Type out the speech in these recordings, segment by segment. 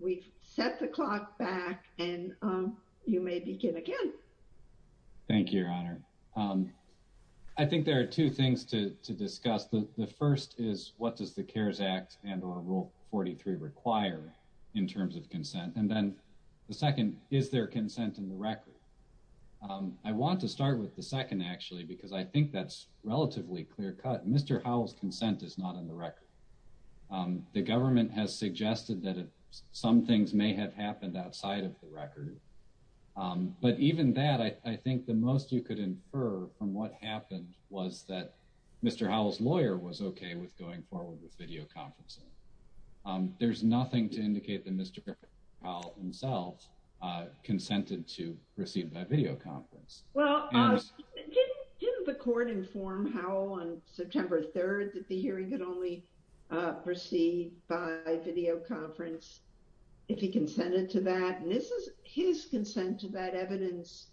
We've set the clock back, and you may begin again. Thank you, Your Honor. I think there are two things to discuss. The first is, what does the CARES Act and Rule 43 require in terms of consent? And then the second, is there consent in the record? I want to start with the second, actually, because I think that's relatively clear-cut. Mr. Howell's consent is not in the record. The government has suggested that some things may have happened outside of the record. But even that, I think the most you could infer from what happened was that Mr. Howell's lawyer was okay with going forward with videoconferencing. There's nothing to indicate that Mr. Howell himself consented to proceed by videoconference. Well, didn't the court inform Howell on September 3rd that the hearing could only proceed by videoconference if he consented to that? And this is his consent to that evidence.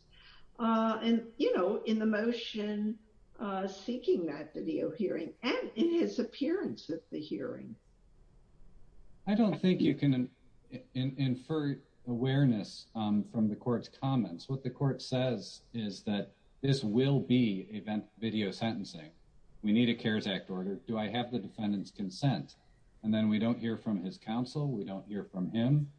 And, you know, in the motion seeking that video hearing, and in his appearance at the hearing. I don't think you can infer awareness from the court's comments. What the court says is that this will be video sentencing. We need a CARES Act order. Do I have the defendant's consent? And then we don't hear from his counsel. We don't hear from him.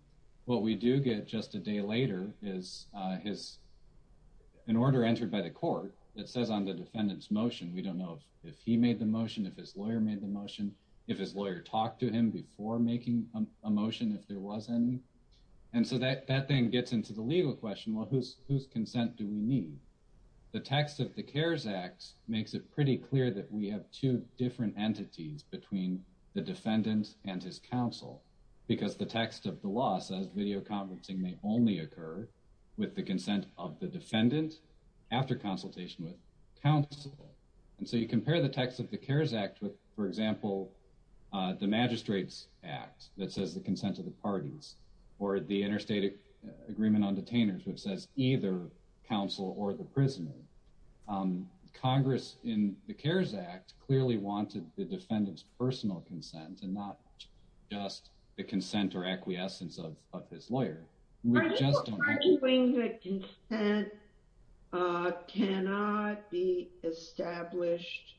What we do get just a day later is an order entered by the court that says on the defendant's motion. We don't know if he made the motion, if his lawyer made the motion, if his lawyer talked to him before making a motion, if there was any. And so that thing gets into the legal question, well, whose consent do we need? The text of the CARES Act makes it pretty clear that we have two different entities between the defendant and his counsel. Because the text of the law says videoconferencing may only occur with the consent of the defendant after consultation with counsel. And so you compare the text of the CARES Act with, for example, the Magistrate's Act that says the consent of the parties or the interstate agreement on detainers, which says either counsel or the prisoner. Congress in the CARES Act clearly wanted the defendant's personal consent and not just the consent or acquiescence of his lawyer. Are you arguing that consent cannot be established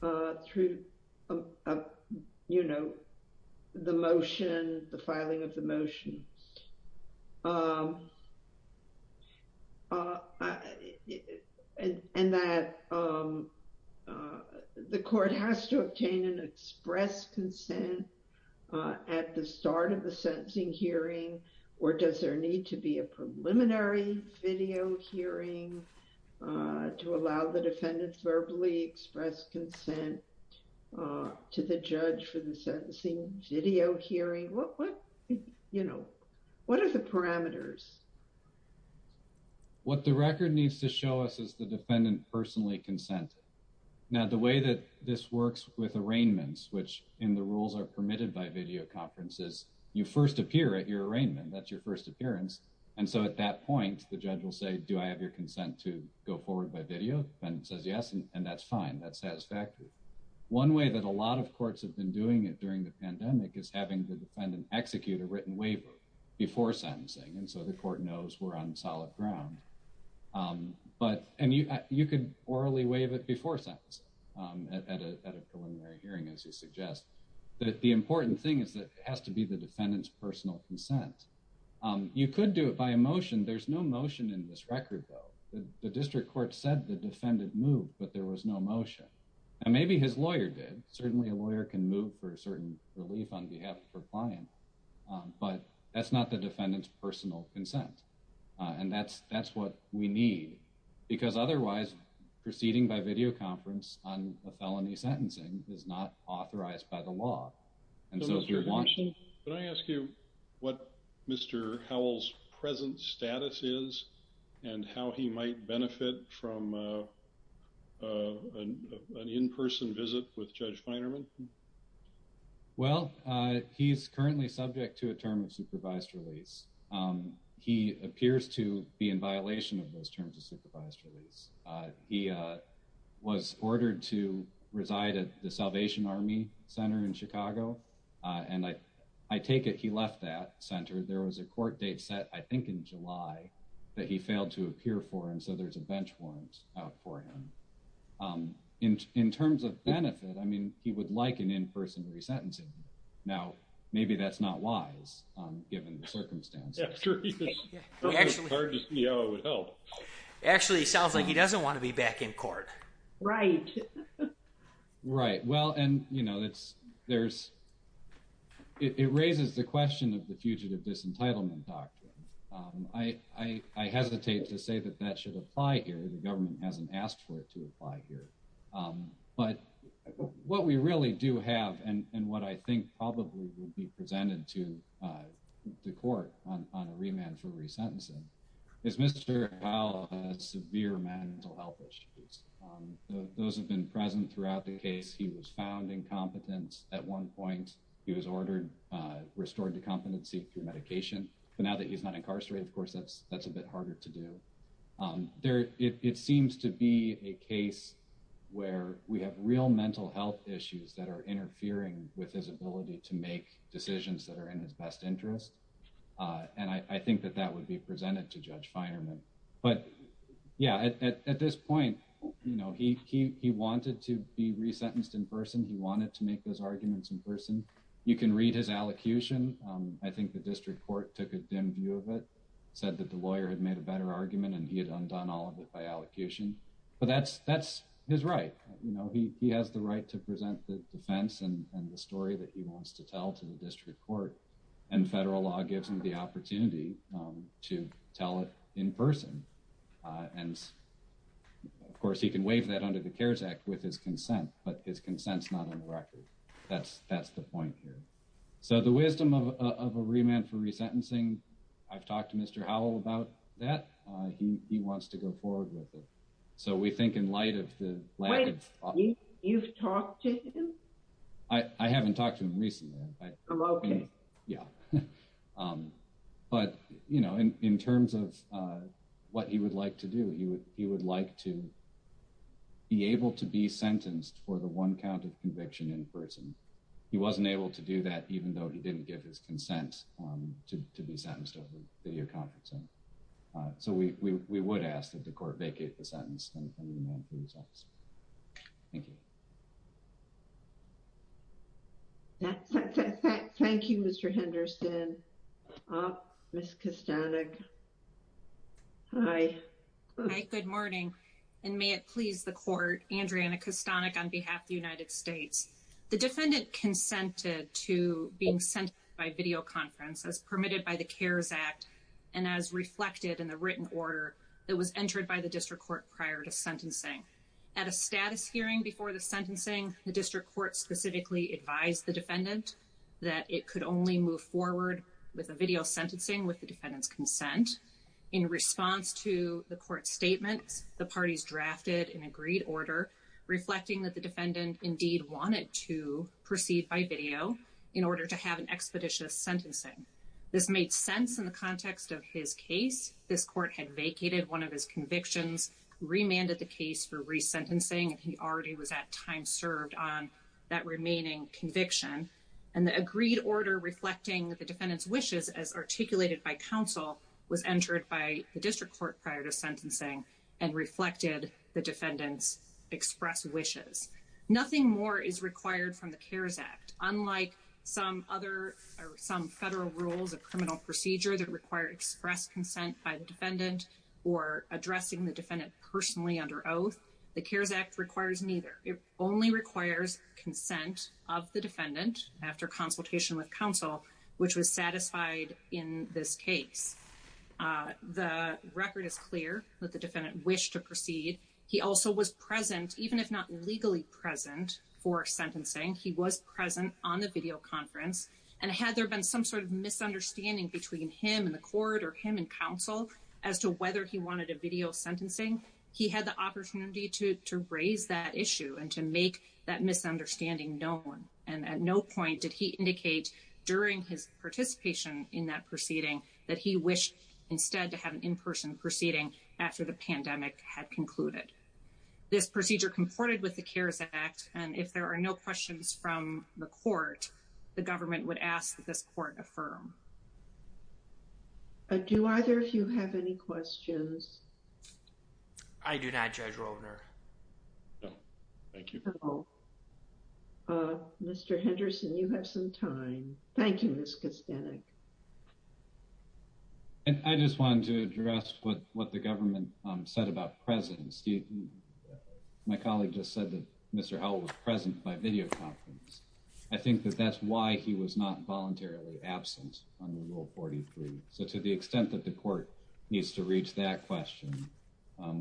through, you know, the motion, the filing of the motion? And that the court has to obtain an express consent at the start of the sentencing hearing, or does there need to be a preliminary video hearing to allow the defendant verbally express consent to the judge for the sentencing video hearing? What, you know, what are the parameters? What the record needs to show us is the defendant personally consented. Now, the way that this works with arraignments, which in the rules are permitted by videoconferences, you first appear at your arraignment, that's your first appearance. And so at that point, the judge will say, do I have your consent to go forward by video? The defendant says yes, and that's fine, that's satisfactory. One way that a lot of courts have been doing it during the pandemic is having the defendant execute a written waiver before sentencing, and so the court knows we're on solid ground. But, and you could orally waive it before sentencing at a preliminary hearing, as you suggest. But the important thing is that it has to be the defendant's personal consent. You could do it by a motion. There's no motion in this record, though. The district court said the defendant moved, but there was no motion. And maybe his lawyer did. Certainly a lawyer can move for a certain relief on behalf of her client. But that's not the defendant's personal consent. And that's what we need, because otherwise proceeding by videoconference on a felony sentencing is not authorized by the law. And so if you're watching... Can I ask you what Mr. Howell's present status is, and how he might benefit from an in-person visit with Judge Feinerman? Well, he's currently subject to a term of supervised release. He appears to be in violation of those terms of supervised release. He was ordered to reside at the Salvation Army Center in Chicago. And I take it he left that center. There was a court date set, I think in July, that he failed to appear for, and so there's a bench warrant out for him. In terms of benefit, I mean, he would like an in-person resentencing. Now, maybe that's not wise, given the circumstances. It's hard to see how it would help. Actually, it sounds like he doesn't want to be back in court. Right. Right. Well, and, you know, it raises the question of the Fugitive Disentitlement Doctrine. I hesitate to say that that should apply here. The government hasn't asked for it to apply here. But what we really do have and what I think probably would be presented to the court on a remand for resentencing is Mr. Howell has severe mental health issues. Those have been present throughout the case. He was found incompetent at one point. He was ordered restored to competency through medication. But now that he's not incarcerated, of course, that's a bit harder to do. It seems to be a case where we have real mental health issues that are interfering with his ability to make decisions that are in his best interest. And I think that that would be presented to Judge Finerman. But, yeah, at this point, you know, he wanted to be resentenced in person. He wanted to make those arguments in person. You can read his allocution. I think the district court took a dim view of it, said that the lawyer had made a better argument, and he had undone all of it by allocation. But that's his right. You know, he has the right to present the defense and the story that he wants to tell to the district court. And federal law gives him the opportunity to tell it in person. And, of course, he can waive that under the CARES Act with his consent. But his consent's not on the record. That's the point here. So the wisdom of a remand for resentencing, I've talked to Mr. Howell about that. He wants to go forward with it. So we think in light of the lack of... Wait. You've talked to him? I haven't talked to him recently. Oh, okay. Yeah. But, you know, in terms of what he would like to do, he would like to be able to be sentenced for the one count of conviction in person. He wasn't able to do that even though he didn't give his consent to be sentenced over the one count of conviction. So we would ask that the court vacate the sentence under the remand for resentencing. Thank you. Thank you, Mr. Henderson. Ms. Kostanek. Hi. Hi. Good morning. And may it please the court, Andreana Kostanek on behalf of the United States. The defendant consented to being sent by videoconference as permitted by the CARES Act and as reflected in the written order that was entered by the district court prior to sentencing. At a status hearing before the sentencing, the district court specifically advised the defendant that it could only move forward with a video sentencing with the defendant's consent. In response to the court's statements, the parties drafted an agreed order reflecting that the defendant indeed wanted to proceed by video in order to have an expeditious sentencing. This made sense in the context of his case. This court had vacated one of his convictions, remanded the case for resentencing, and he already was at time served on that remaining conviction. And the agreed order reflecting the defendant's wishes as articulated by counsel was entered by the district court prior to sentencing and reflected the defendant's express wishes. Nothing more is required from the CARES Act. Unlike some other or some federal rules of criminal procedure that require express consent by the defendant or addressing the defendant personally under oath, the CARES Act requires neither. It only requires consent of the defendant after consultation with counsel, which was satisfied in this case. The record is clear that the defendant wished to proceed. He also was present, even if not legally present, for sentencing. He was present on the video conference. And had there been some sort of misunderstanding between him and the court or him and counsel as to whether he wanted a video sentencing, he had the opportunity to raise that issue and to make that misunderstanding known. And at no point did he indicate during his participation in that proceeding that he wished instead to have an in-person proceeding after the pandemic had concluded. This procedure comported with the CARES Act. And if there are no questions from the court, the government would ask that this court affirm. Do either of you have any questions? I do not, Judge Rovner. Thank you. Mr. Henderson, you have some time. Thank you, Ms. Kastanek. I just wanted to address what the government said about presence. My colleague just said that Mr. Howell was present by video conference. I think that that's why he was not voluntarily absent under Rule 43. So to the extent that the court needs to reach that question,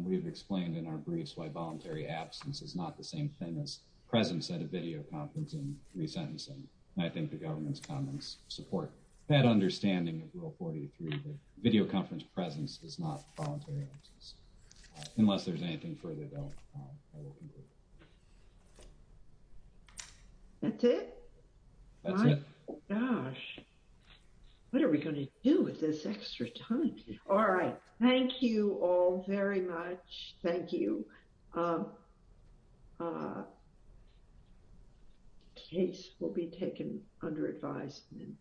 we've explained in our briefs why voluntary absence is not the same thing as presence at a video conference and resentencing. And I think the government's comments support that understanding of Rule 43 that video conference presence is not voluntary absence. Unless there's anything further, though, I will conclude. That's it? That's it. Oh, gosh. What are we going to do with this extra time? All right. Thank you all very much. Thank you. Case will be taken under advisement.